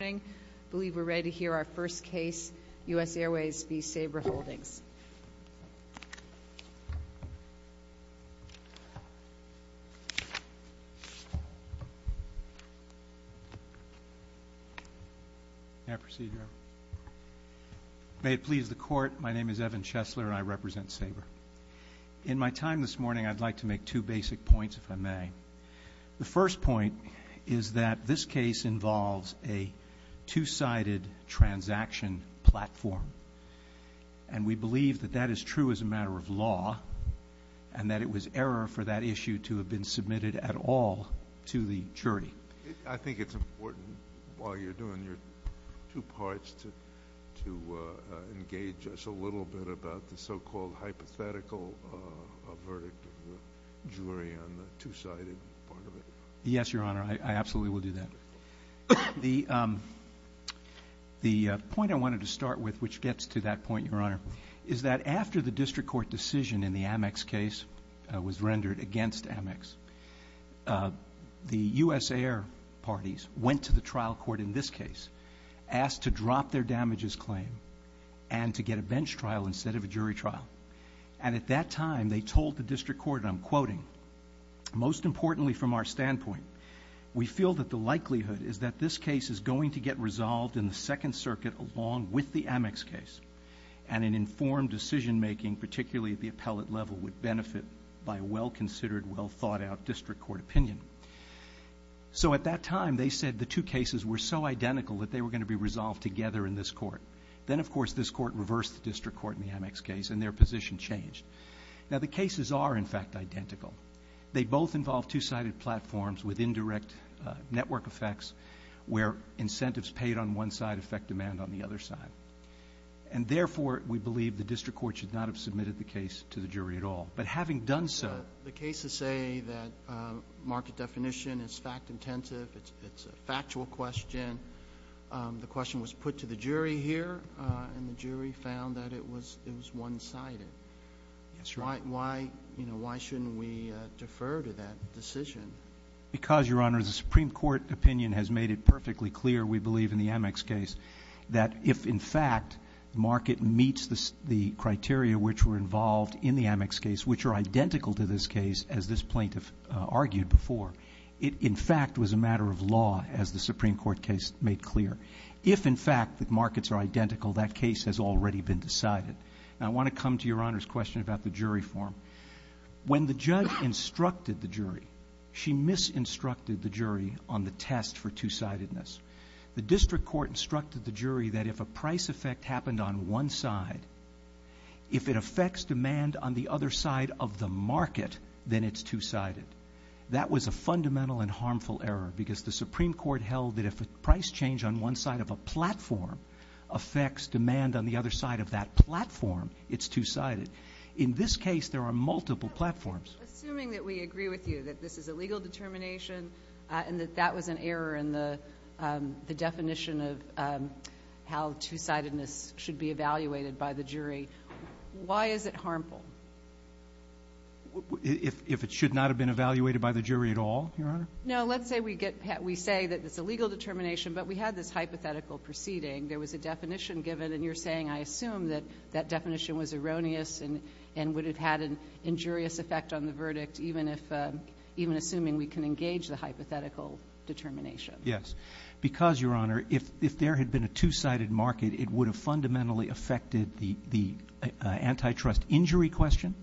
I believe we're ready to hear our first case, U.S. Airways v. Sabre Holdings. May I proceed, Your Honor? May it please the Court, my name is Evan Chesler and I represent Sabre. In my time this morning, I'd like to make two basic points, if I may. The first point is that this case involves a two-sided transaction platform. And we believe that that is true as a matter of law and that it was error for that issue to have been submitted at all to the jury. I think it's important while you're doing your two parts to engage us a little bit about the so-called hypothetical verdict of the jury on the two-sided part of it. Yes, Your Honor, I absolutely will do that. The point I wanted to start with, which gets to that point, Your Honor, is that after the district court decision in the Amex case was rendered against Amex, the U.S. Air parties went to the trial court in this case, asked to drop their damages claim and to get a bench trial instead of a jury trial. And at that time, they told the district court, and I'm quoting, most importantly from our standpoint, we feel that the likelihood is that this case is going to get resolved in the Second Circuit along with the Amex case and an informed decision making, particularly at the appellate level, would benefit by a well-considered, well-thought-out district court opinion. So at that time, they said the two cases were so identical that they were going to be resolved together in this court. Then, of course, this court reversed the district court in the Amex case, and their position changed. Now, the cases are, in fact, identical. They both involve two-sided platforms with indirect network effects where incentives paid on one side affect demand on the other side. And therefore, we believe the district court should not have submitted the case to the jury at all. But having done so. The cases say that market definition is fact-intensive. It's a factual question. The question was put to the jury here, and the jury found that it was one-sided. Why shouldn't we defer to that decision? Because, Your Honor, the Supreme Court opinion has made it perfectly clear, we believe, in the Amex case, that if, in fact, the market meets the criteria which were involved in the Amex case, which are identical to this case, as this plaintiff argued before, it, in fact, was a matter of law, as the Supreme Court case made clear. If, in fact, the markets are identical, that case has already been decided. Now, I want to come to Your Honor's question about the jury form. When the judge instructed the jury, she misinstructed the jury on the test for two-sidedness. The district court instructed the jury that if a price effect happened on one side, if it affects demand on the other side of the market, then it's two-sided. That was a fundamental and harmful error, because the Supreme Court held that if a price change on one side of a platform affects demand on the other side of that platform, it's two-sided. In this case, there are multiple platforms. Assuming that we agree with you that this is a legal determination and that that was an error in the definition of how two-sidedness should be evaluated by the jury, why is it harmful? If it should not have been evaluated by the jury at all, Your Honor? No. Let's say we say that it's a legal determination, but we had this hypothetical proceeding. There was a definition given, and you're saying, I assume, that that definition was erroneous and would have had an injurious effect on the verdict, even assuming we can engage the hypothetical determination. Yes, because, Your Honor, if there had been a two-sided market, it would have fundamentally affected the antitrust injury question.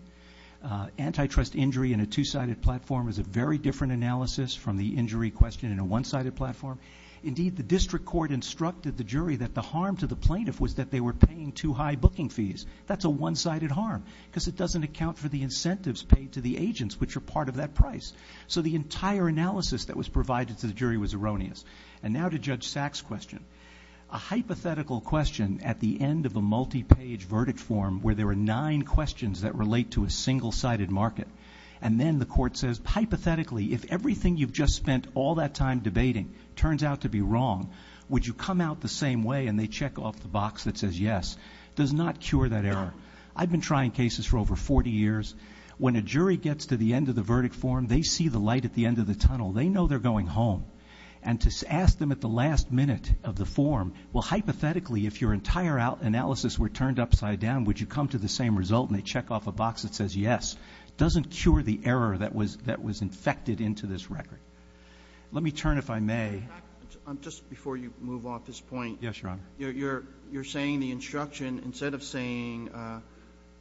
Antitrust injury in a two-sided platform is a very different analysis from the injury question in a one-sided platform. Indeed, the district court instructed the jury that the harm to the plaintiff was that they were paying too high booking fees. That's a one-sided harm because it doesn't account for the incentives paid to the agents, which are part of that price. So the entire analysis that was provided to the jury was erroneous. And now to Judge Sack's question. A hypothetical question at the end of a multi-page verdict form where there are nine questions that relate to a single-sided market, and then the court says, hypothetically, if everything you've just spent all that time debating turns out to be wrong, would you come out the same way? And they check off the box that says yes. Does not cure that error. I've been trying cases for over 40 years. When a jury gets to the end of the verdict form, they see the light at the end of the tunnel. They know they're going home. And to ask them at the last minute of the form, well, hypothetically, if your entire analysis were turned upside down, would you come to the same result? And they check off a box that says yes. Doesn't cure the error that was infected into this record. Let me turn, if I may. Just before you move off this point. Yes, Your Honor. You're saying the instruction, instead of saying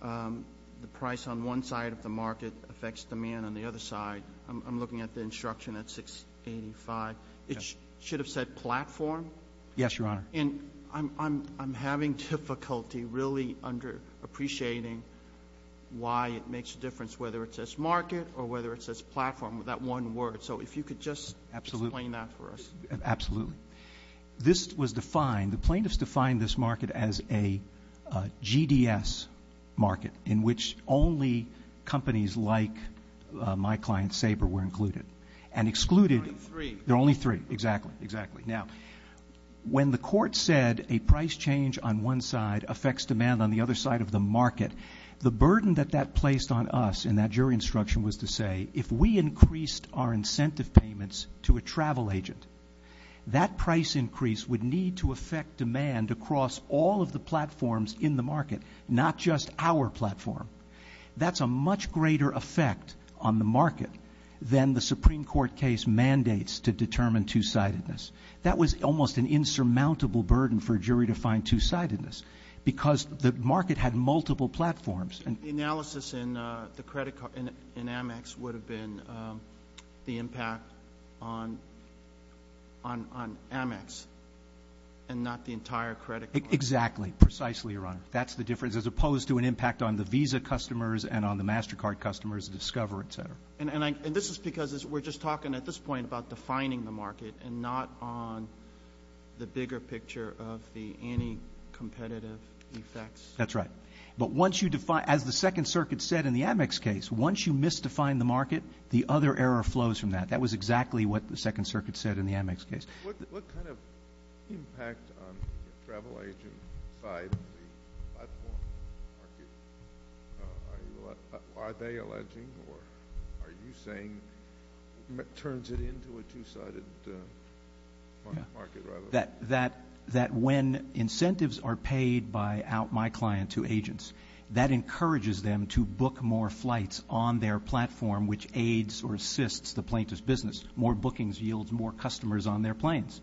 the price on one side of the market affects demand on the other side, I'm looking at the instruction at 685. It should have said platform. Yes, Your Honor. And I'm having difficulty really under-appreciating why it makes a difference, whether it says market or whether it says platform with that one word. So if you could just explain that for us. Absolutely. This was defined, the plaintiffs defined this market as a GDS market, in which only companies like my client, Sabre, were included. And excluded. There are only three. There are only three, exactly, exactly. Now, when the court said a price change on one side affects demand on the other side of the market, the burden that that placed on us in that jury instruction was to say, if we increased our incentive payments to a travel agent, that price increase would need to affect demand across all of the platforms in the market, not just our platform. That's a much greater effect on the market than the Supreme Court case mandates to determine two-sidedness. That was almost an insurmountable burden for a jury to find two-sidedness, because the market had multiple platforms. The analysis in the credit card in Amex would have been the impact on Amex and not the entire credit card. Exactly, precisely, Your Honor. That's the difference, as opposed to an impact on the Visa customers and on the MasterCard customers, Discover, et cetera. And this is because we're just talking at this point about defining the market and not on the bigger picture of the anti-competitive effects. That's right. But once you define, as the Second Circuit said in the Amex case, once you misdefine the market, the other error flows from that. That was exactly what the Second Circuit said in the Amex case. What kind of impact on the travel agent side of the platform market? Are they alleging or are you saying it turns it into a two-sided market? That when incentives are paid by out my client to agents, that encourages them to book more flights on their platform, which aids or assists the plaintiff's business. More bookings yields more customers on their planes.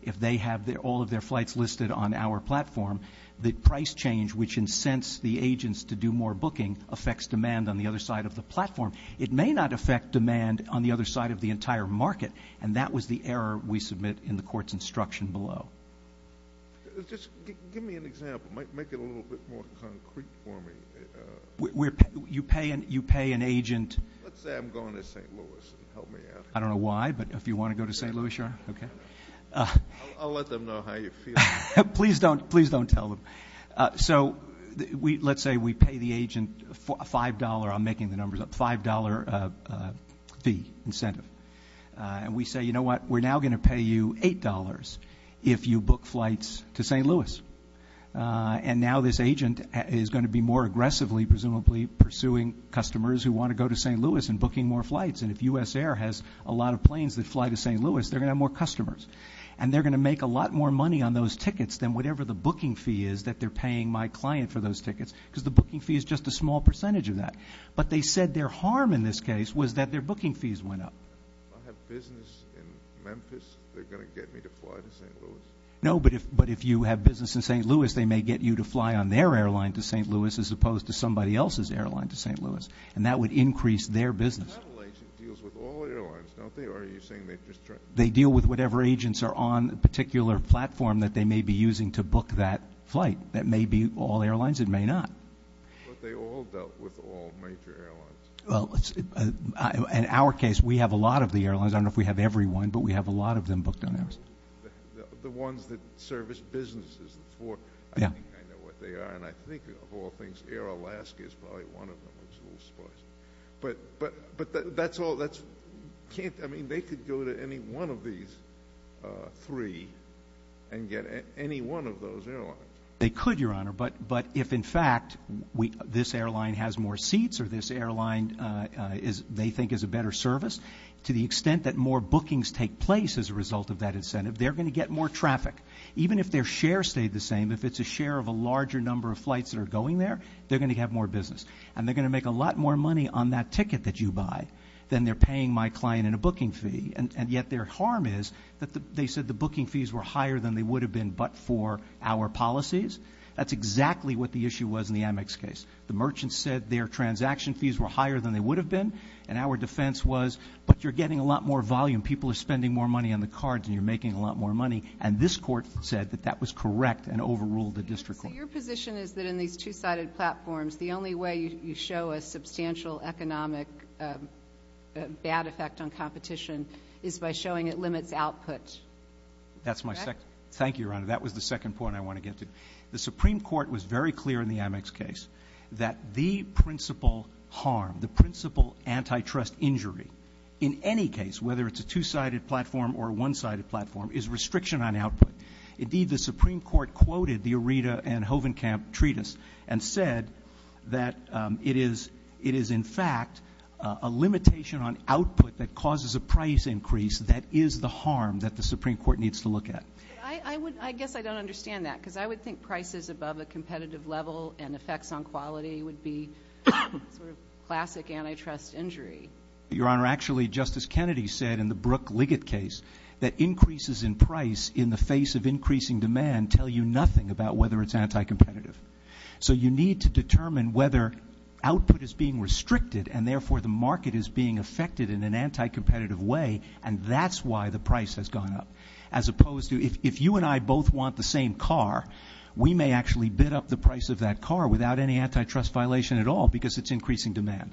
If they have all of their flights listed on our platform, the price change which incents the agents to do more booking affects demand on the other side of the platform. It may not affect demand on the other side of the entire market, and that was the error we submit in the court's instruction below. Just give me an example. Make it a little bit more concrete for me. You pay an agent. Let's say I'm going to St. Louis. Help me out here. I don't know why, but if you want to go to St. Louis, sure. Okay. I'll let them know how you feel. Please don't tell them. So let's say we pay the agent $5. I'm making the numbers up, $5 fee incentive. And we say, you know what, we're now going to pay you $8 if you book flights to St. Louis. And now this agent is going to be more aggressively, presumably, pursuing customers who want to go to St. Louis and booking more flights. And if US Air has a lot of planes that fly to St. Louis, they're going to have more customers. And they're going to make a lot more money on those tickets than whatever the booking fee is that they're paying my client for those tickets, because the booking fee is just a small percentage of that. But they said their harm in this case was that their booking fees went up. If I have business in Memphis, they're going to get me to fly to St. Louis? No, but if you have business in St. Louis, they may get you to fly on their airline to St. Louis as opposed to somebody else's airline to St. Louis, and that would increase their business. But a travel agent deals with all airlines, don't they? Or are you saying they just try – They deal with whatever agents are on a particular platform that they may be using to book that flight. That may be all airlines. It may not. But they all dealt with all major airlines. Well, in our case, we have a lot of the airlines. I don't know if we have every one, but we have a lot of them booked on ours. The ones that service businesses, the four – Yeah. I think I know what they are, and I think, of all things, Air Alaska is probably one of them. But that's all – I mean, they could go to any one of these three and get any one of those airlines. They could, Your Honor, but if, in fact, this airline has more seats or this airline they think is a better service, to the extent that more bookings take place as a result of that incentive, they're going to get more traffic. Even if their share stayed the same, if it's a share of a larger number of flights that are going there, they're going to have more business, and they're going to make a lot more money on that ticket that you buy than they're paying my client in a booking fee. And yet their harm is that they said the booking fees were higher than they would have been but for our policies. That's exactly what the issue was in the Amex case. The merchant said their transaction fees were higher than they would have been, and our defense was, but you're getting a lot more volume. People are spending more money on the cards, and you're making a lot more money. And this court said that that was correct and overruled the district court. Your position is that in these two-sided platforms, the only way you show a substantial economic bad effect on competition is by showing it limits output. That's my second. Thank you, Your Honor. That was the second point I want to get to. The Supreme Court was very clear in the Amex case that the principal harm, the principal antitrust injury, in any case, whether it's a two-sided platform or a one-sided platform, is restriction on output. Indeed, the Supreme Court quoted the Areta and Hovenkamp treatise and said that it is, in fact, a limitation on output that causes a price increase that is the harm that the Supreme Court needs to look at. I guess I don't understand that because I would think prices above a competitive level and effects on quality would be sort of classic antitrust injury. Your Honor, actually, Justice Kennedy said in the Brook Liggett case that increases in price in the face of increasing demand tell you nothing about whether it's anti-competitive. So you need to determine whether output is being restricted and therefore the market is being affected in an anti-competitive way, and that's why the price has gone up. As opposed to if you and I both want the same car, we may actually bid up the price of that car without any antitrust violation at all because it's increasing demand.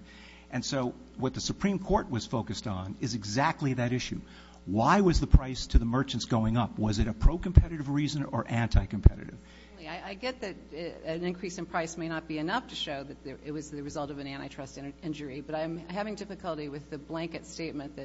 And so what the Supreme Court was focused on is exactly that issue. Why was the price to the merchants going up? Was it a pro-competitive reason or anti-competitive? I get that an increase in price may not be enough to show that it was the result of an antitrust injury, but I'm having difficulty with the blanket statement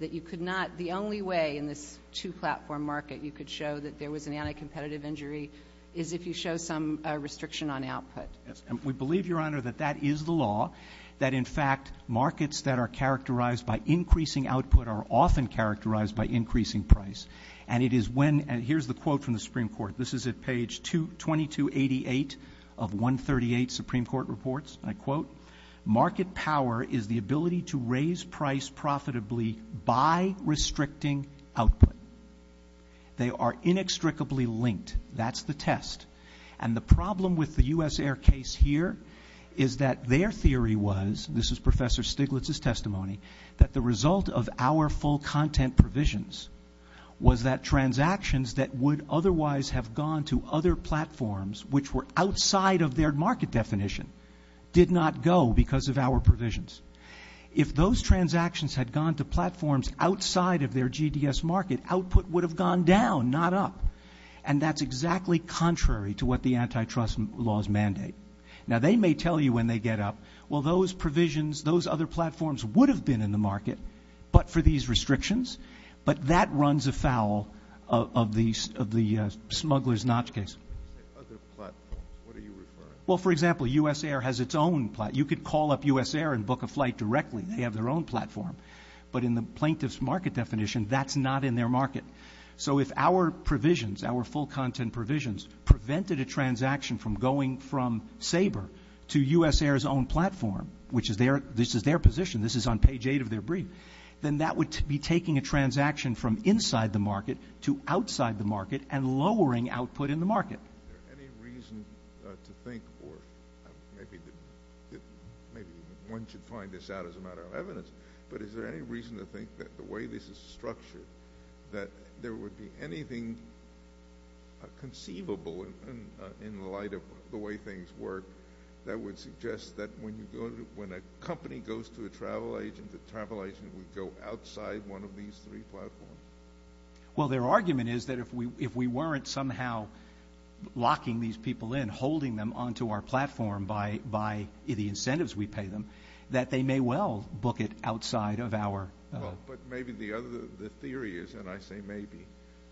that you could not, the only way in this two-platform market you could show that there was an anti-competitive injury is if you show some restriction on output. Yes, and we believe, Your Honor, that that is the law, that in fact markets that are characterized by increasing output are often characterized by increasing price. And it is when, and here's the quote from the Supreme Court. This is at page 2288 of 138 Supreme Court reports, and I quote, market power is the ability to raise price profitably by restricting output. They are inextricably linked. That's the test. And the problem with the U.S. Air case here is that their theory was, this is Professor Stiglitz's testimony, that the result of our full content provisions was that transactions that would otherwise have gone to other platforms, which were outside of their market definition, did not go because of our provisions. If those transactions had gone to platforms outside of their GDS market, output would have gone down, not up. And that's exactly contrary to what the antitrust laws mandate. Now, they may tell you when they get up, well, those provisions, those other platforms would have been in the market, but for these restrictions, but that runs afoul of the smuggler's notch case. Other platforms, what are you referring to? Well, for example, U.S. Air has its own platform. You could call up U.S. Air and book a flight directly. They have their own platform. But in the plaintiff's market definition, that's not in their market. So if our provisions, our full content provisions, prevented a transaction from going from Sabre to U.S. Air's own platform, which is their position, this is on page eight of their brief, then that would be taking a transaction from inside the market to outside the market and lowering output in the market. Is there any reason to think, or maybe one should find this out as a matter of evidence, but is there any reason to think that the way this is structured, that there would be anything conceivable in the light of the way things work that would suggest that when a company goes to a travel agent, the travel agent would go outside one of these three platforms? Well, their argument is that if we weren't somehow locking these people in, holding them onto our platform by the incentives we pay them, that they may well book it outside of our. Well, but maybe the theory is, and I say maybe,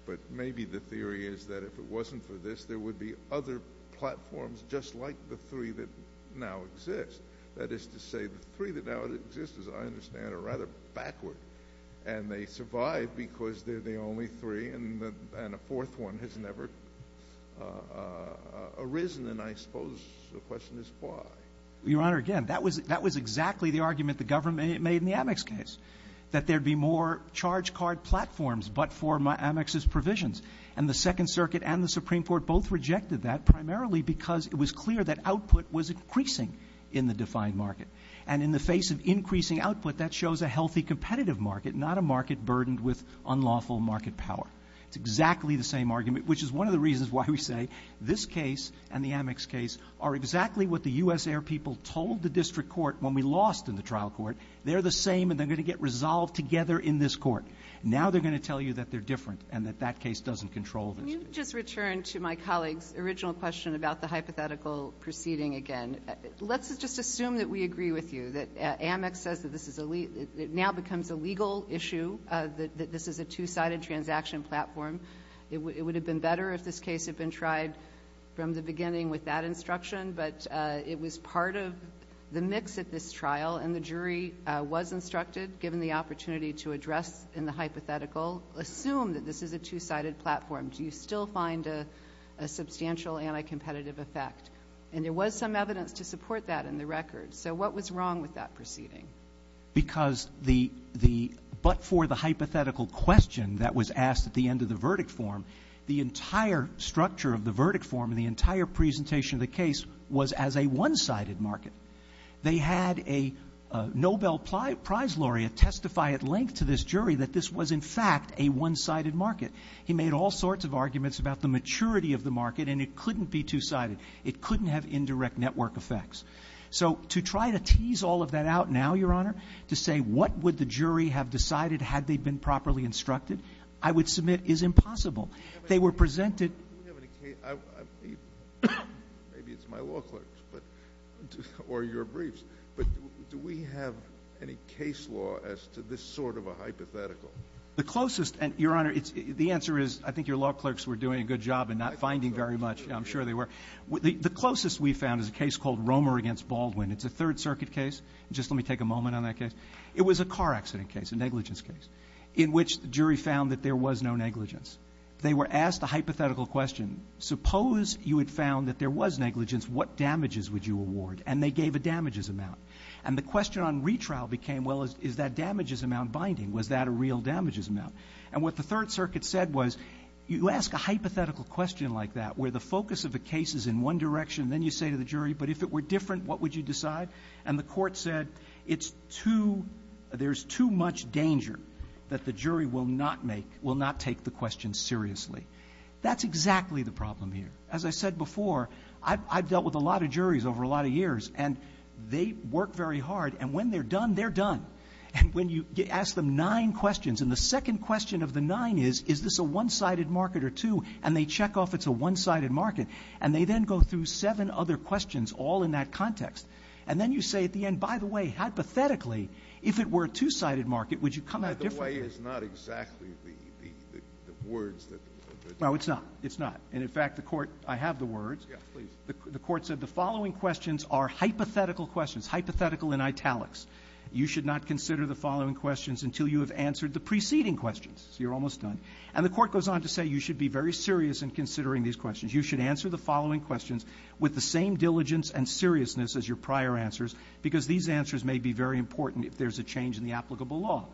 but maybe the theory is that if it wasn't for this, there would be other platforms just like the three that now exist. That is to say, the three that now exist, as I understand it, are rather backward, and they survive because they're the only three, and a fourth one has never arisen. And I suppose the question is why. Your Honor, again, that was exactly the argument the government made in the Amex case, that there would be more charge card platforms but for Amex's provisions. And the Second Circuit and the Supreme Court both rejected that, primarily because it was clear that output was increasing in the defined market. And in the face of increasing output, that shows a healthy competitive market, not a market burdened with unlawful market power. It's exactly the same argument, which is one of the reasons why we say this case and the Amex case are exactly what the U.S. air people told the district court when we lost in the trial court. They're the same, and they're going to get resolved together in this court. Now they're going to tell you that they're different and that that case doesn't control them. Can you just return to my colleague's original question about the hypothetical proceeding again? Let's just assume that we agree with you, that Amex says that this now becomes a legal issue, that this is a two-sided transaction platform. It would have been better if this case had been tried from the beginning with that instruction, but it was part of the mix at this trial, and the jury was instructed, given the opportunity to address in the hypothetical, assume that this is a two-sided platform. Do you still find a substantial anti-competitive effect? And there was some evidence to support that in the record. So what was wrong with that proceeding? Because the but for the hypothetical question that was asked at the end of the verdict form, the entire structure of the verdict form and the entire presentation of the case was as a one-sided market. They had a Nobel Prize laureate testify at length to this jury that this was, in fact, a one-sided market. He made all sorts of arguments about the maturity of the market, and it couldn't be two-sided. It couldn't have indirect network effects. So to try to tease all of that out now, Your Honor, to say what would the jury have decided had they been properly instructed, I would submit is impossible. They were presented. Do we have any case law as to this sort of a hypothetical? The closest, and, Your Honor, the answer is I think your law clerks were doing a good job and not finding very much. I'm sure they were. The closest we found is a case called Romer v. Baldwin. It's a Third Circuit case. Just let me take a moment on that case. It was a car accident case, a negligence case, in which the jury found that there was no negligence. They were asked a hypothetical question. Suppose you had found that there was negligence, what damages would you award? And they gave a damages amount. And the question on retrial became, well, is that damages amount binding? Was that a real damages amount? And what the Third Circuit said was you ask a hypothetical question like that where the focus of the case is in one direction, and then you say to the jury, but if it were different, what would you decide? And the court said it's too, there's too much danger that the jury will not make, will not take the question seriously. That's exactly the problem here. As I said before, I've dealt with a lot of juries over a lot of years, and they work very hard. And when they're done, they're done. And when you ask them nine questions, and the second question of the nine is, is this a one-sided market or two, and they check off it's a one-sided market, and they then go through seven other questions all in that context. And then you say at the end, by the way, hypothetically, if it were a two-sided market, would you come at it differently? The way is not exactly the words that they're using. No, it's not. It's not. And, in fact, the court, I have the words. Yes, please. The court said the following questions are hypothetical questions, hypothetical in italics. You should not consider the following questions until you have answered the preceding questions. So you're almost done. And the court goes on to say you should be very serious in considering these questions. You should answer the following questions with the same diligence and seriousness as your prior answers, because these answers may be very important if there's a change in the applicable law.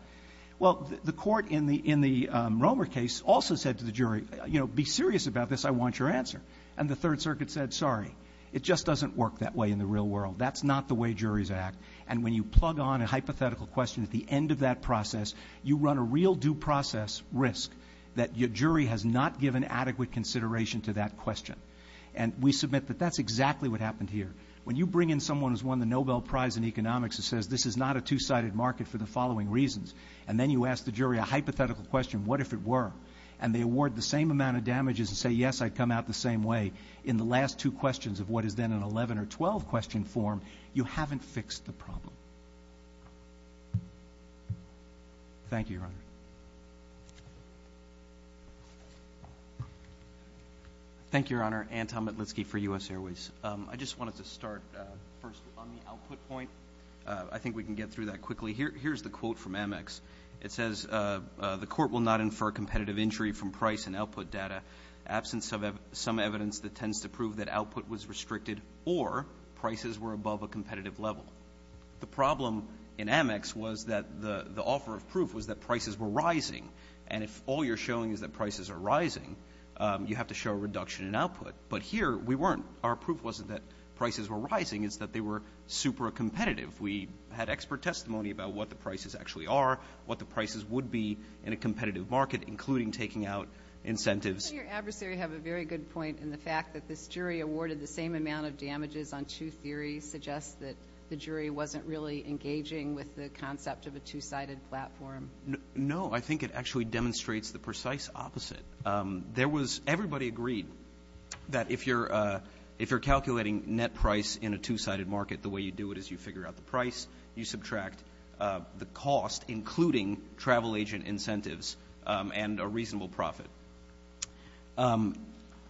Well, the court in the Romer case also said to the jury, you know, be serious about this. I want your answer. And the Third Circuit said, sorry. It just doesn't work that way in the real world. That's not the way juries act. And when you plug on a hypothetical question at the end of that process, you run a real due process risk that your jury has not given adequate consideration to that question. And we submit that that's exactly what happened here. When you bring in someone who's won the Nobel Prize in economics and says this is not a two-sided market for the following reasons, and then you ask the jury a hypothetical question, what if it were, and they award the same amount of damages and say, yes, I'd come out the same way in the last two questions of what is then an 11 or 12 question form, you haven't fixed the problem. Thank you, Your Honor. Thank you, Your Honor. Anton Matlitsky for U.S. Airways. I just wanted to start first on the output point. I think we can get through that quickly. Here's the quote from Amex. It says, the court will not infer competitive injury from price and output data. Absence of some evidence that tends to prove that output was restricted or prices were above a competitive level. The problem in Amex was that the offer of proof was that prices were rising. And if all you're showing is that prices are rising, you have to show a reduction in output. But here we weren't. Our proof wasn't that prices were rising. It's that they were super competitive. We had expert testimony about what the prices actually are, what the prices would be in a competitive market, including taking out incentives. Doesn't your adversary have a very good point in the fact that this jury awarded the same amount of damages on two theories suggests that the jury wasn't really engaging with the concept of a two-sided platform? No. I think it actually demonstrates the precise opposite. There was – everybody agreed that if you're calculating net price in a two-sided market, the way you do it is you figure out the price, you subtract the cost, including travel agent incentives and a reasonable profit.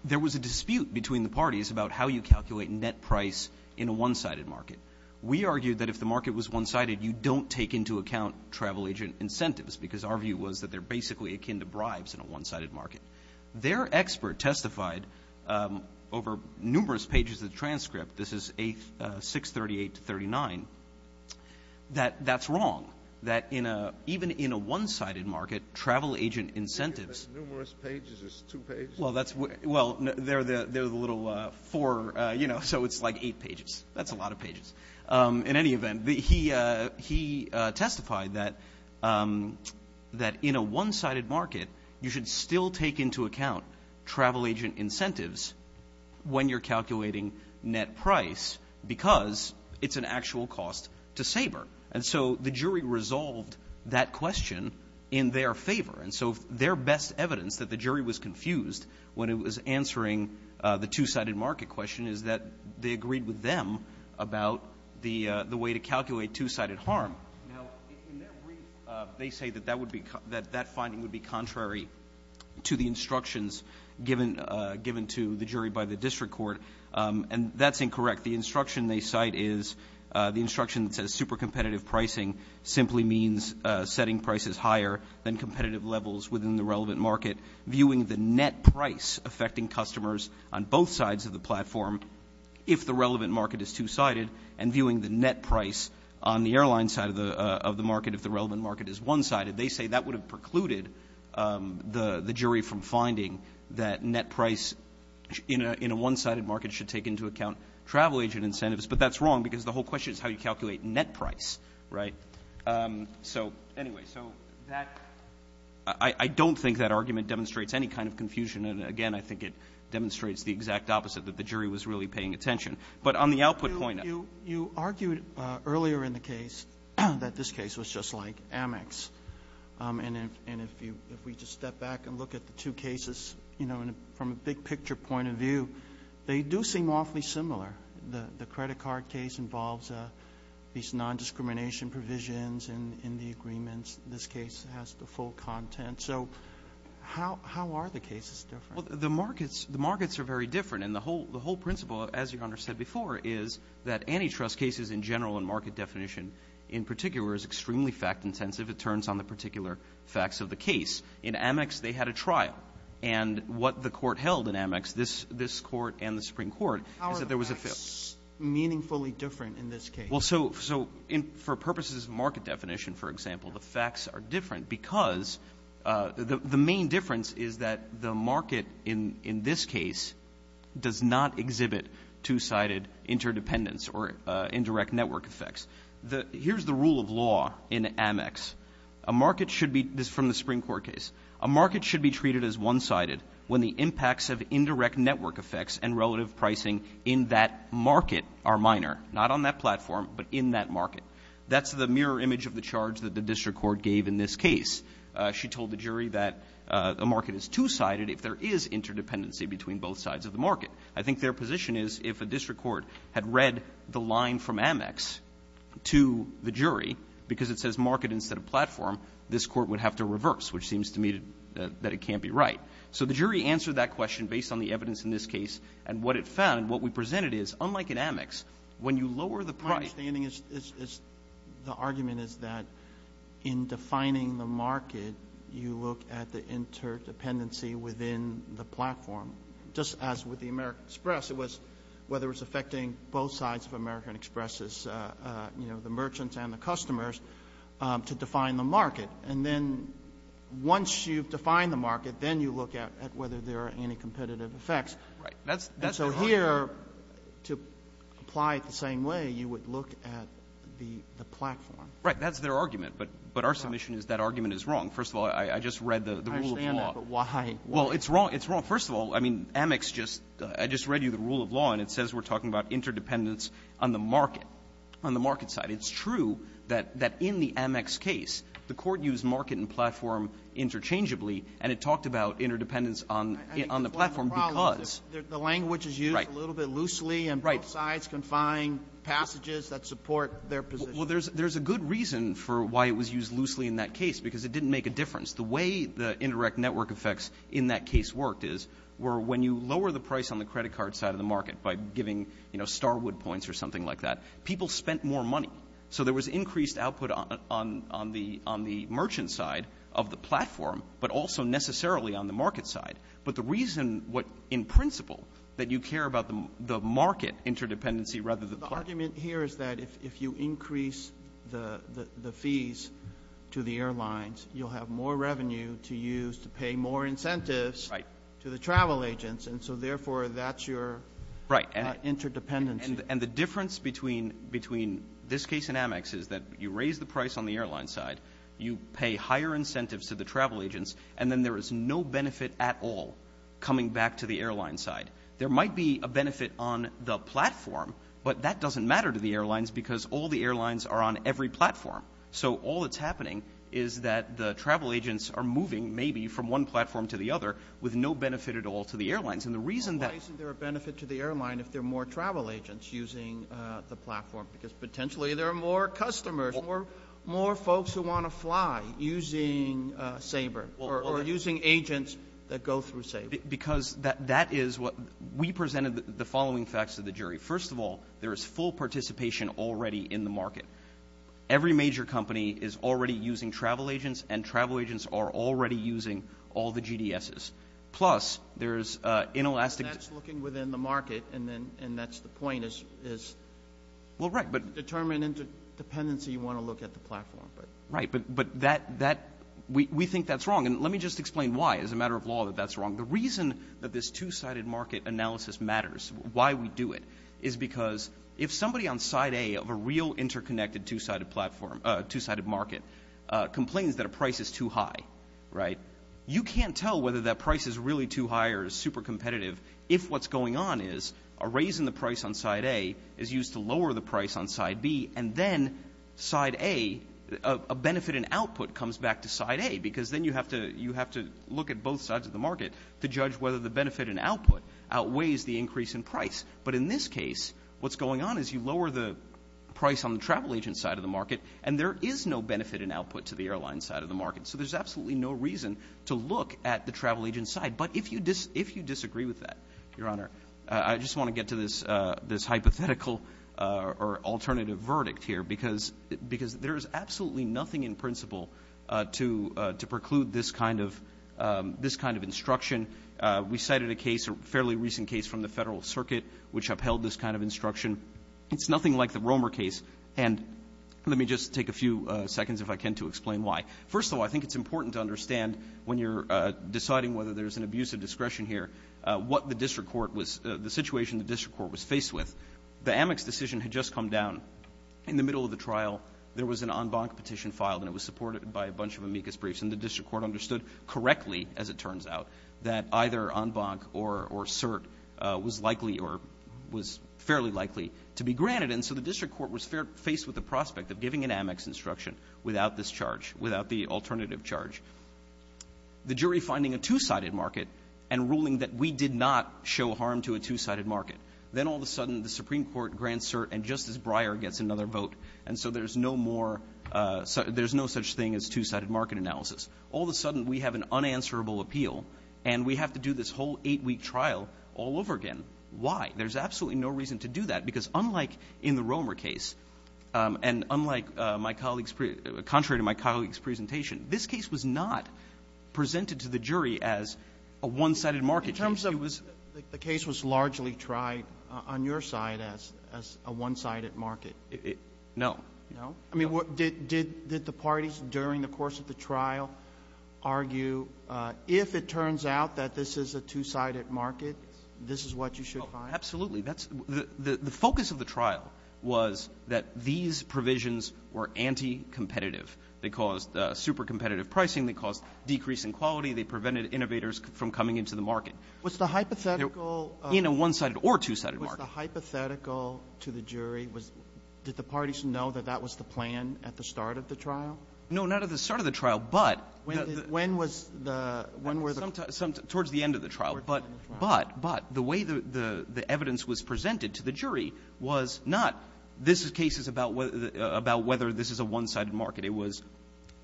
There was a dispute between the parties about how you calculate net price in a one-sided market. We argued that if the market was one-sided, you don't take into account travel agent incentives because our view was that they're basically akin to bribes in a one-sided market. Their expert testified over numerous pages of the transcript – this is 638 to 39 – that that's wrong, that even in a one-sided market, travel agent incentives – Numerous pages is two pages? Well, that's – well, they're the little four – you know, so it's like eight pages. That's a lot of pages. In any event, he testified that in a one-sided market, you should still take into account travel agent incentives when you're calculating net price because it's an actual cost to So the jury resolved that question in their favor. And so their best evidence that the jury was confused when it was answering the two-sided market question is that they agreed with them about the way to calculate two-sided harm. Now, in their brief, they say that that would be – that that finding would be contrary to the instructions given to the jury by the district court, and that's incorrect. The instruction they cite is the instruction that says super competitive pricing simply means setting prices higher than competitive levels within the relevant market, viewing the net price affecting customers on both sides of the platform if the relevant market is two-sided, and viewing the net price on the airline side of the market if the relevant market is one-sided. They say that would have precluded the jury from finding that net price in a one-sided market should take into account travel agent incentives. But that's wrong because the whole question is how you calculate net price, right? So anyway, so that – I don't think that argument demonstrates any kind of confusion. And again, I think it demonstrates the exact opposite, that the jury was really paying attention. But on the output point of it – You argued earlier in the case that this case was just like Amex. And if you – if we just step back and look at the two cases, you know, from a big-picture point of view, they do seem awfully similar. The credit card case involves these nondiscrimination provisions in the agreements. This case has the full content. So how are the cases different? Well, the markets – the markets are very different. And the whole principle, as Your Honor said before, is that antitrust cases in general and market definition in particular is extremely fact-intensive. It turns on the particular facts of the case. In Amex, they had a trial. And what the court held in Amex, this court and the Supreme Court – How are the facts meaningfully different in this case? Well, so for purposes of market definition, for example, the facts are different because the main difference is that the market in this case does not exhibit two-sided interdependence or indirect network effects. Here's the rule of law in Amex. A market should be – this is from the Supreme Court case. A market should be treated as one-sided when the impacts of indirect network effects and relative pricing in that market are minor. Not on that platform, but in that market. That's the mirror image of the charge that the district court gave in this case. She told the jury that a market is two-sided if there is interdependency between both sides of the market. I think their position is if a district court had read the line from Amex to the jury because it says market instead of platform, this court would have to reverse, which seems to me that it can't be right. So the jury answered that question based on the evidence in this case. And what it found, what we presented is, unlike in Amex, when you lower the price – My understanding is the argument is that in defining the market, you look at the interdependency within the platform. Just as with the American Express, it was whether it was affecting both sides of American Express, the merchants and the customers, to define the market. And then once you've defined the market, then you look at whether there are any competitive effects. Right. And so here, to apply it the same way, you would look at the platform. Right. That's their argument. But our submission is that argument is wrong. First of all, I just read the rule of law. I understand that, but why? Well, it's wrong. It's wrong. First of all, I mean, Amex just – I just read you the rule of law, and it says we're talking about interdependence on the market, on the market side. It's true that in the Amex case, the Court used market and platform interchangeably, and it talked about interdependence on the platform because – I think the problem is the language is used a little bit loosely, and both sides confine passages that support their position. Well, there's a good reason for why it was used loosely in that case, because it didn't make a difference. The way the indirect network effects in that case worked is where when you lower the price on the credit card side of the market by giving, you know, Starwood points or something like that, people spent more money. So there was increased output on the merchant side of the platform, but also necessarily on the market side. But the reason what – in principle, that you care about the market interdependency rather than the platform. The argument here is that if you increase the fees to the airlines, you'll have more revenue to use to pay more incentives to the travel agents, and so, therefore, that's your interdependency. Right, and the difference between this case and Amex is that you raise the price on the airline side, you pay higher incentives to the travel agents, and then there is no benefit at all coming back to the airline side. There might be a benefit on the platform, but that doesn't matter to the airlines because all the airlines are on every platform. with no benefit at all to the airlines. And the reason that – Why isn't there a benefit to the airline if there are more travel agents using the platform? Because potentially there are more customers, more folks who want to fly using Sabre or using agents that go through Sabre. Because that is what – we presented the following facts to the jury. First of all, there is full participation already in the market. Every major company is already using travel agents, and travel agents are already using all the GDSs. Plus, there is inelastic – That's looking within the market, and that's the point is – Well, right, but – Determine interdependency, you want to look at the platform. Right, but that – we think that's wrong. And let me just explain why, as a matter of law, that that's wrong. The reason that this two-sided market analysis matters, why we do it, is because if somebody on side A of a real interconnected two-sided market complains that a price is too high, right, you can't tell whether that price is really too high or is super competitive if what's going on is a raise in the price on side A is used to lower the price on side B, and then side A, a benefit in output comes back to side A, because then you have to look at both sides of the market to judge whether the benefit in output outweighs the increase in price. But in this case, what's going on is you lower the price on the travel agent side of the market, and there is no benefit in output to the airline side of the market. So there's absolutely no reason to look at the travel agent side. But if you disagree with that, Your Honor, I just want to get to this hypothetical or alternative verdict here, because there is absolutely nothing in principle to preclude this kind of instruction. We cited a case, a fairly recent case from the Federal Circuit, which upheld this kind of instruction. It's nothing like the Romer case. And let me just take a few seconds, if I can, to explain why. First of all, I think it's important to understand when you're deciding whether there's an abuse of discretion here what the district court was the situation the district court was faced with. The Amex decision had just come down. In the middle of the trial, there was an en banc petition filed, and it was supported by a bunch of amicus briefs. And the district court understood correctly, as it turns out, that either en banc or cert was likely or was fairly likely to be granted. And so the district court was faced with the prospect of giving an Amex instruction without this charge, without the alternative charge. The jury finding a two-sided market and ruling that we did not show harm to a two-sided market, then all of a sudden the Supreme Court grants cert, and Justice Breyer gets another vote. And so there's no more – there's no such thing as two-sided market analysis. All of a sudden, we have an unanswerable appeal, and we have to do this whole eight-week trial all over again. There's absolutely no reason to do that, because unlike in the Romer case and unlike my colleague's – contrary to my colleague's presentation, this case was not presented to the jury as a one-sided market. In terms of it was – The case was largely tried on your side as a one-sided market. No. No? I mean, did the parties during the course of the trial argue, if it turns out that this is a two-sided market, this is what you should find? Absolutely. The focus of the trial was that these provisions were anti-competitive. They caused super-competitive pricing. They caused decrease in quality. They prevented innovators from coming into the market. Was the hypothetical – In a one-sided or two-sided market. Was the hypothetical to the jury – did the parties know that that was the plan at the start of the trial? No, not at the start of the trial, but – Towards the end of the trial. Towards the end of the trial. But the way the evidence was presented to the jury was not, this case is about whether this is a one-sided market. It was,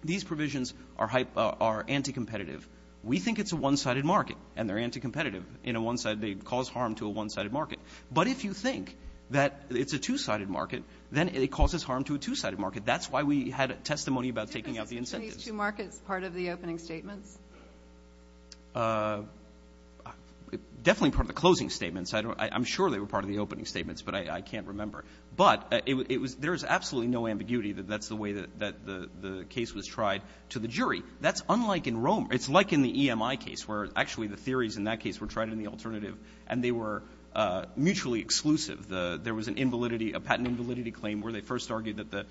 these provisions are anti-competitive. We think it's a one-sided market, and they're anti-competitive. In a one-sided – they cause harm to a one-sided market. But if you think that it's a two-sided market, then it causes harm to a two-sided market. That's why we had testimony about taking out the incentives. Were these two markets part of the opening statements? Definitely part of the closing statements. I'm sure they were part of the opening statements, but I can't remember. But there is absolutely no ambiguity that that's the way that the case was tried to the jury. That's unlike in Rome. It's like in the EMI case where, actually, the theories in that case were tried in the alternative, and they were mutually exclusive. There was an invalidity, a patent invalidity claim where they first argued that the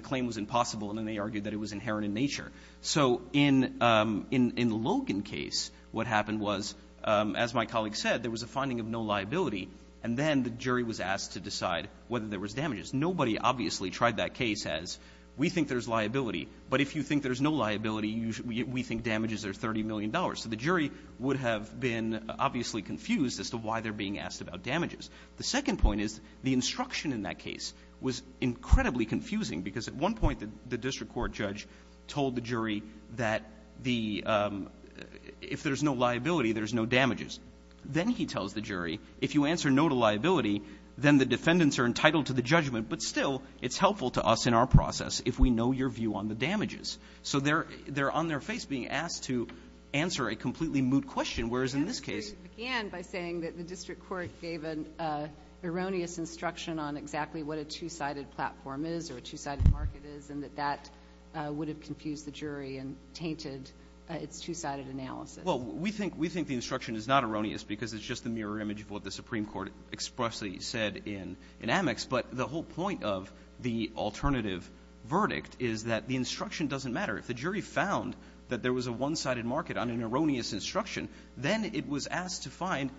claim was impossible, and then they argued that it was inherent in nature. So in the Logan case, what happened was, as my colleague said, there was a finding of no liability, and then the jury was asked to decide whether there was damages. Nobody obviously tried that case as, we think there's liability, but if you think there's no liability, we think damages are $30 million. So the jury would have been obviously confused as to why they're being asked about damages. The second point is the instruction in that case was incredibly confusing because at one point the district court judge told the jury that if there's no liability, there's no damages. Then he tells the jury, if you answer no to liability, then the defendants are entitled to the judgment. But still, it's helpful to us in our process if we know your view on the damages. So they're on their face being asked to answer a completely moot question, whereas in this case ---- The jury began by saying that the district court gave an erroneous instruction on exactly what a two-sided platform is or a two-sided market is, and that that would have confused the jury and tainted its two-sided analysis. Well, we think the instruction is not erroneous because it's just the mirror image of what the Supreme Court expressly said in Amex. But the whole point of the alternative verdict is that the instruction doesn't matter. If the jury found that there was a one-sided market on an erroneous instruction, then it was asked to find,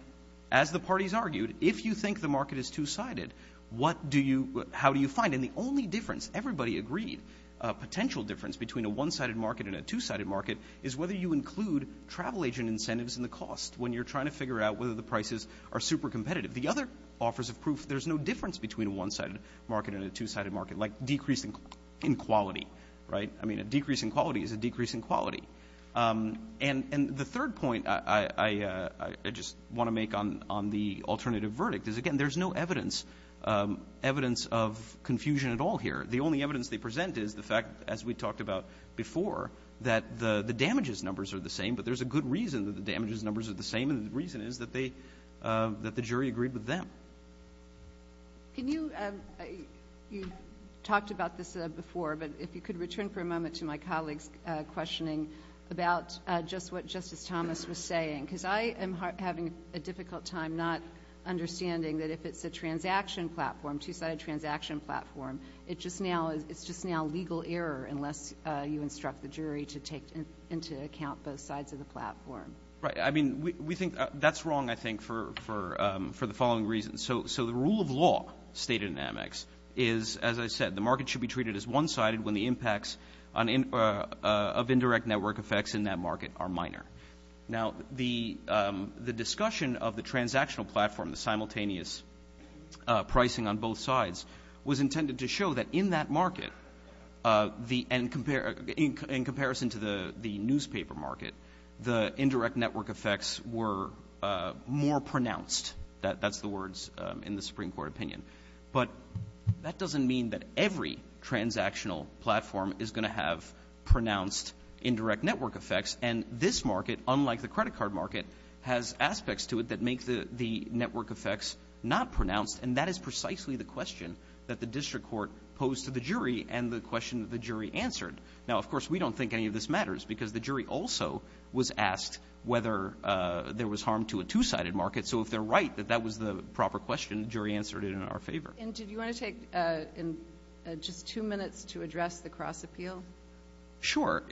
as the parties argued, if you think the market is two-sided, how do you find it? And the only difference, everybody agreed, a potential difference between a one-sided market and a two-sided market is whether you include travel agent incentives in the cost when you're trying to figure out whether the prices are super competitive. The other offers of proof, there's no difference between a one-sided market and a two-sided market, like decrease in quality, right? I mean, a decrease in quality is a decrease in quality. And the third point I just want to make on the alternative verdict is, again, there's no evidence, evidence of confusion at all here. The only evidence they present is the fact, as we talked about before, that the damages numbers are the same, but there's a good reason that the damages numbers are the same, and the reason is that they – that the jury agreed with them. Can you – you talked about this before, but if you could return for a moment to my colleague's questioning about just what Justice Thomas was saying, because I am having a difficult time not understanding that if it's a transaction platform, two-sided transaction platform, it just now – it's just now legal error unless you instruct the jury to take into account both sides of the platform. Right. I mean, we think – that's wrong, I think, for the following reasons. So the rule of law stated in Amex is, as I said, the market should be treated as one-sided when the impacts of indirect network effects in that market are minor. Now, the discussion of the transactional platform, the simultaneous pricing on both sides, was intended to show that in that market, in comparison to the newspaper market, the indirect network effects were more pronounced. That's the words in the Supreme Court opinion. But that doesn't mean that every transactional platform is going to have pronounced indirect network effects. And this market, unlike the credit card market, has aspects to it that make the network effects not pronounced, and that is precisely the question that the district court posed to the jury and the question that the jury answered. Now, of course, we don't think any of this matters because the jury also was asked whether there was harm to a two-sided market. So if they're right that that was the proper question, the jury answered it in our favor. And did you want to take just two minutes to address the cross-appeal? Sure.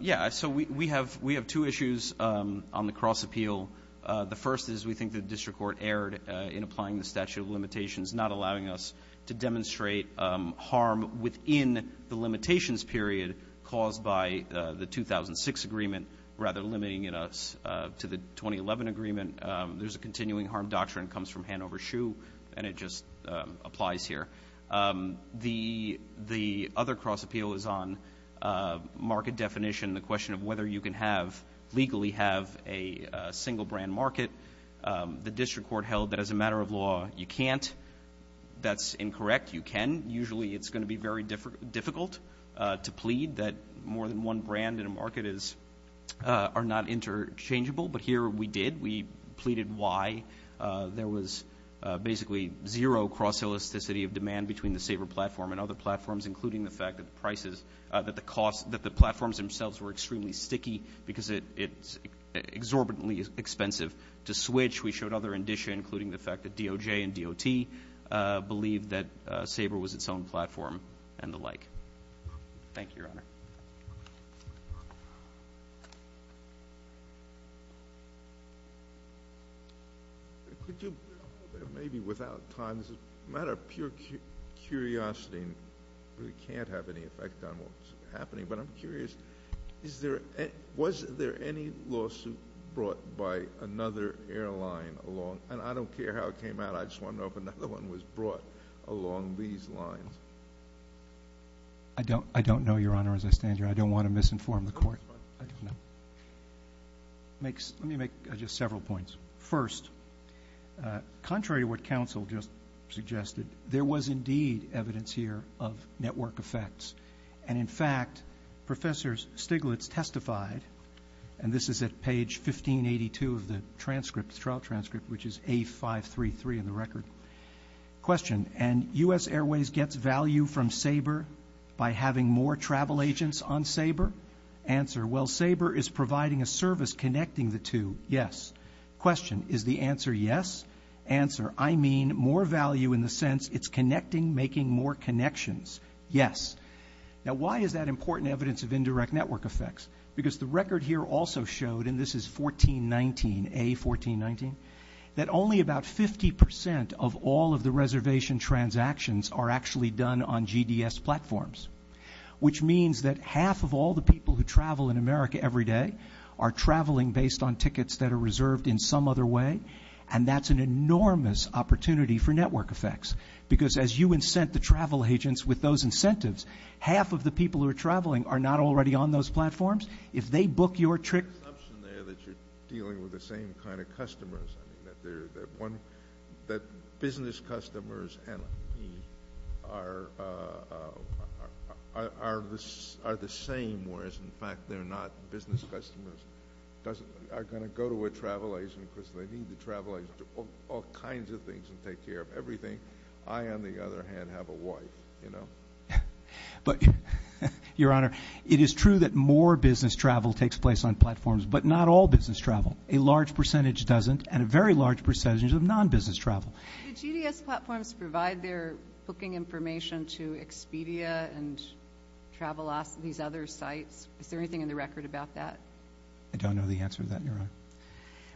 Yeah, so we have two issues on the cross-appeal. The first is we think the district court erred in applying the statute of limitations, not allowing us to demonstrate harm within the limitations period caused by the 2006 agreement, rather limiting it to the 2011 agreement. There's a continuing harm doctrine that comes from Hanover Shoe, and it just applies here. The other cross-appeal is on market definition, the question of whether you can legally have a single-brand market. The district court held that as a matter of law, you can't. That's incorrect. You can. Usually it's going to be very difficult to plead that more than one brand in a market are not interchangeable. But here we did. We pleaded why. There was basically zero cross-elasticity of demand between the Sabre platform and other platforms, including the fact that the prices, that the cost, that the platforms themselves were extremely sticky because it's exorbitantly expensive to switch. We showed other indicia, including the fact that DOJ and DOT believed that Sabre was its own platform and the like. Thank you, Your Honor. Could you, maybe without time, this is a matter of pure curiosity and really can't have any effect on what's happening, but I'm curious, was there any lawsuit brought by another airline along, and I don't care how it came out, I just want to know if another one was brought along these lines? I don't know, Your Honor, as I stand here. I don't want to misinform the court. Let me make just several points. First, contrary to what counsel just suggested, there was indeed evidence here of network effects. And, in fact, Professors Stiglitz testified, and this is at page 1582 of the trial transcript, which is A533 in the record. Question, and U.S. Airways gets value from Sabre by having more travel agents on Sabre? Answer, well, Sabre is providing a service connecting the two. Yes. Question, is the answer yes? Answer, I mean more value in the sense it's connecting, making more connections. Yes. Now, why is that important evidence of indirect network effects? Because the record here also showed, and this is A1419, that only about 50% of all of the reservation transactions are actually done on GDS platforms, which means that half of all the people who travel in America every day are traveling based on tickets that are reserved in some other way, and that's an enormous opportunity for network effects. Because as you incent the travel agents with those incentives, half of the people who are traveling are not already on those platforms. If they book your trip. There's an assumption there that you're dealing with the same kind of customers, that business customers and me are the same, whereas, in fact, they're not. Business customers are going to go to a travel agent because they need the travel agent to do all kinds of things and take care of everything. I, on the other hand, have a wife, you know. Your Honor, it is true that more business travel takes place on platforms, but not all business travel. A large percentage doesn't, and a very large percentage of non-business travel. Do GDS platforms provide their booking information to Expedia and these other sites? Is there anything in the record about that? I don't know the answer to that, Your Honor.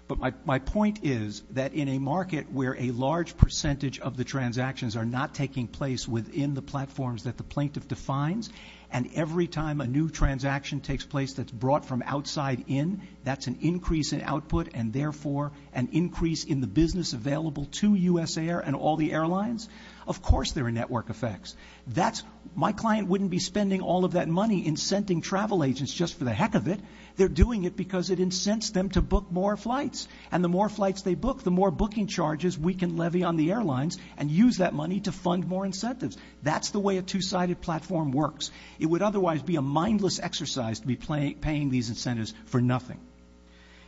But my point is that in a market where a large percentage of the transactions are not taking place within the platforms that the plaintiff defines, and every time a new transaction takes place that's brought from outside in, that's an increase in output and, therefore, an increase in the business available to USAir and all the airlines. Of course there are network effects. My client wouldn't be spending all of that money incenting travel agents just for the heck of it. They're doing it because it incents them to book more flights. And the more flights they book, the more booking charges we can levy on the airlines and use that money to fund more incentives. That's the way a two-sided platform works. It would otherwise be a mindless exercise to be paying these incentives for nothing.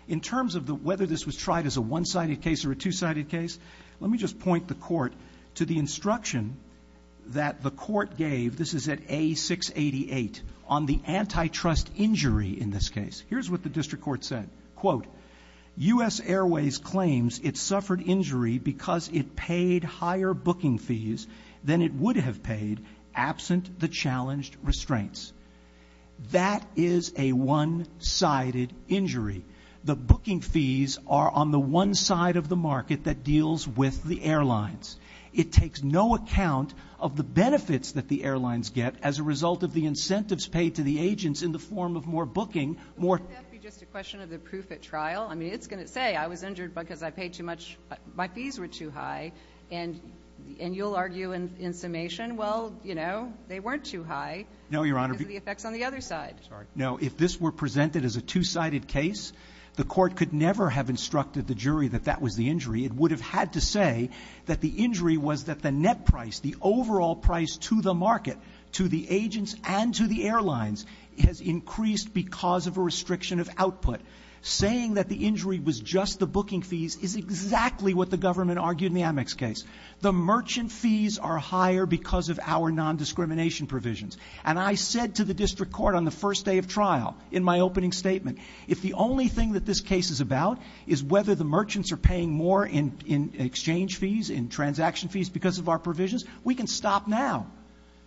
In terms of whether this was tried as a one-sided case or a two-sided case, let me just point the Court to the instruction that the Court gave. This is at A688. On the antitrust injury in this case, here's what the District Court said. Quote, That is a one-sided injury. The booking fees are on the one side of the market that deals with the airlines. It takes no account of the benefits that the airlines get as a result of the incentives paid to the agents in the form of more booking. Wouldn't that be just a question of the proof at trial? I mean, it's going to say I was injured because I paid too much. My fees were too high. And you'll argue in summation, well, you know, they weren't too high. No, Your Honor. Because of the effects on the other side. No, if this were presented as a two-sided case, the Court could never have instructed the jury that that was the injury. It would have had to say that the injury was that the net price, the overall price to the market, to the agents and to the airlines, has increased because of a restriction of output. Saying that the injury was just the booking fees is exactly what the government argued in the Amex case. The merchant fees are higher because of our nondiscrimination provisions. And I said to the District Court on the first day of trial in my opening statement, if the only thing that this case is about is whether the merchants are paying more in exchange fees, in transaction fees, because of our provisions, we can stop now.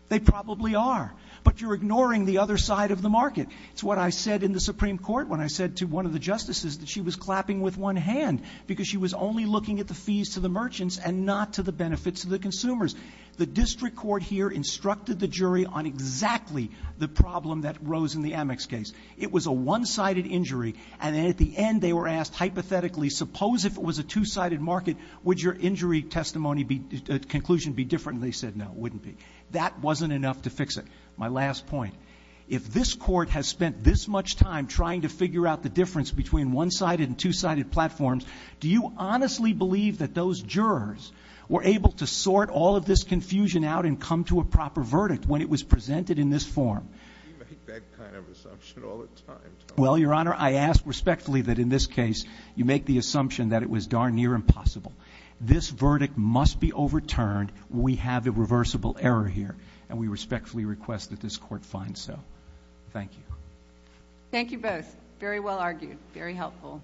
They probably are. But you're ignoring the other side of the market. It's what I said in the Supreme Court when I said to one of the justices that she was clapping with one hand because she was only looking at the fees to the merchants and not to the benefits to the consumers. The District Court here instructed the jury on exactly the problem that arose in the Amex case. It was a one-sided injury, and then at the end they were asked hypothetically, suppose if it was a two-sided market, would your injury conclusion be different? And they said no, it wouldn't be. That wasn't enough to fix it. My last point, if this Court has spent this much time trying to figure out the difference between one-sided and two-sided platforms, do you honestly believe that those jurors were able to sort all of this confusion out and come to a proper verdict when it was presented in this form? We make that kind of assumption all the time, Tom. Well, Your Honor, I ask respectfully that in this case you make the assumption that it was darn near impossible. This verdict must be overturned. We have a reversible error here, and we respectfully request that this Court find so. Thank you. Thank you both. Very well argued. Very helpful.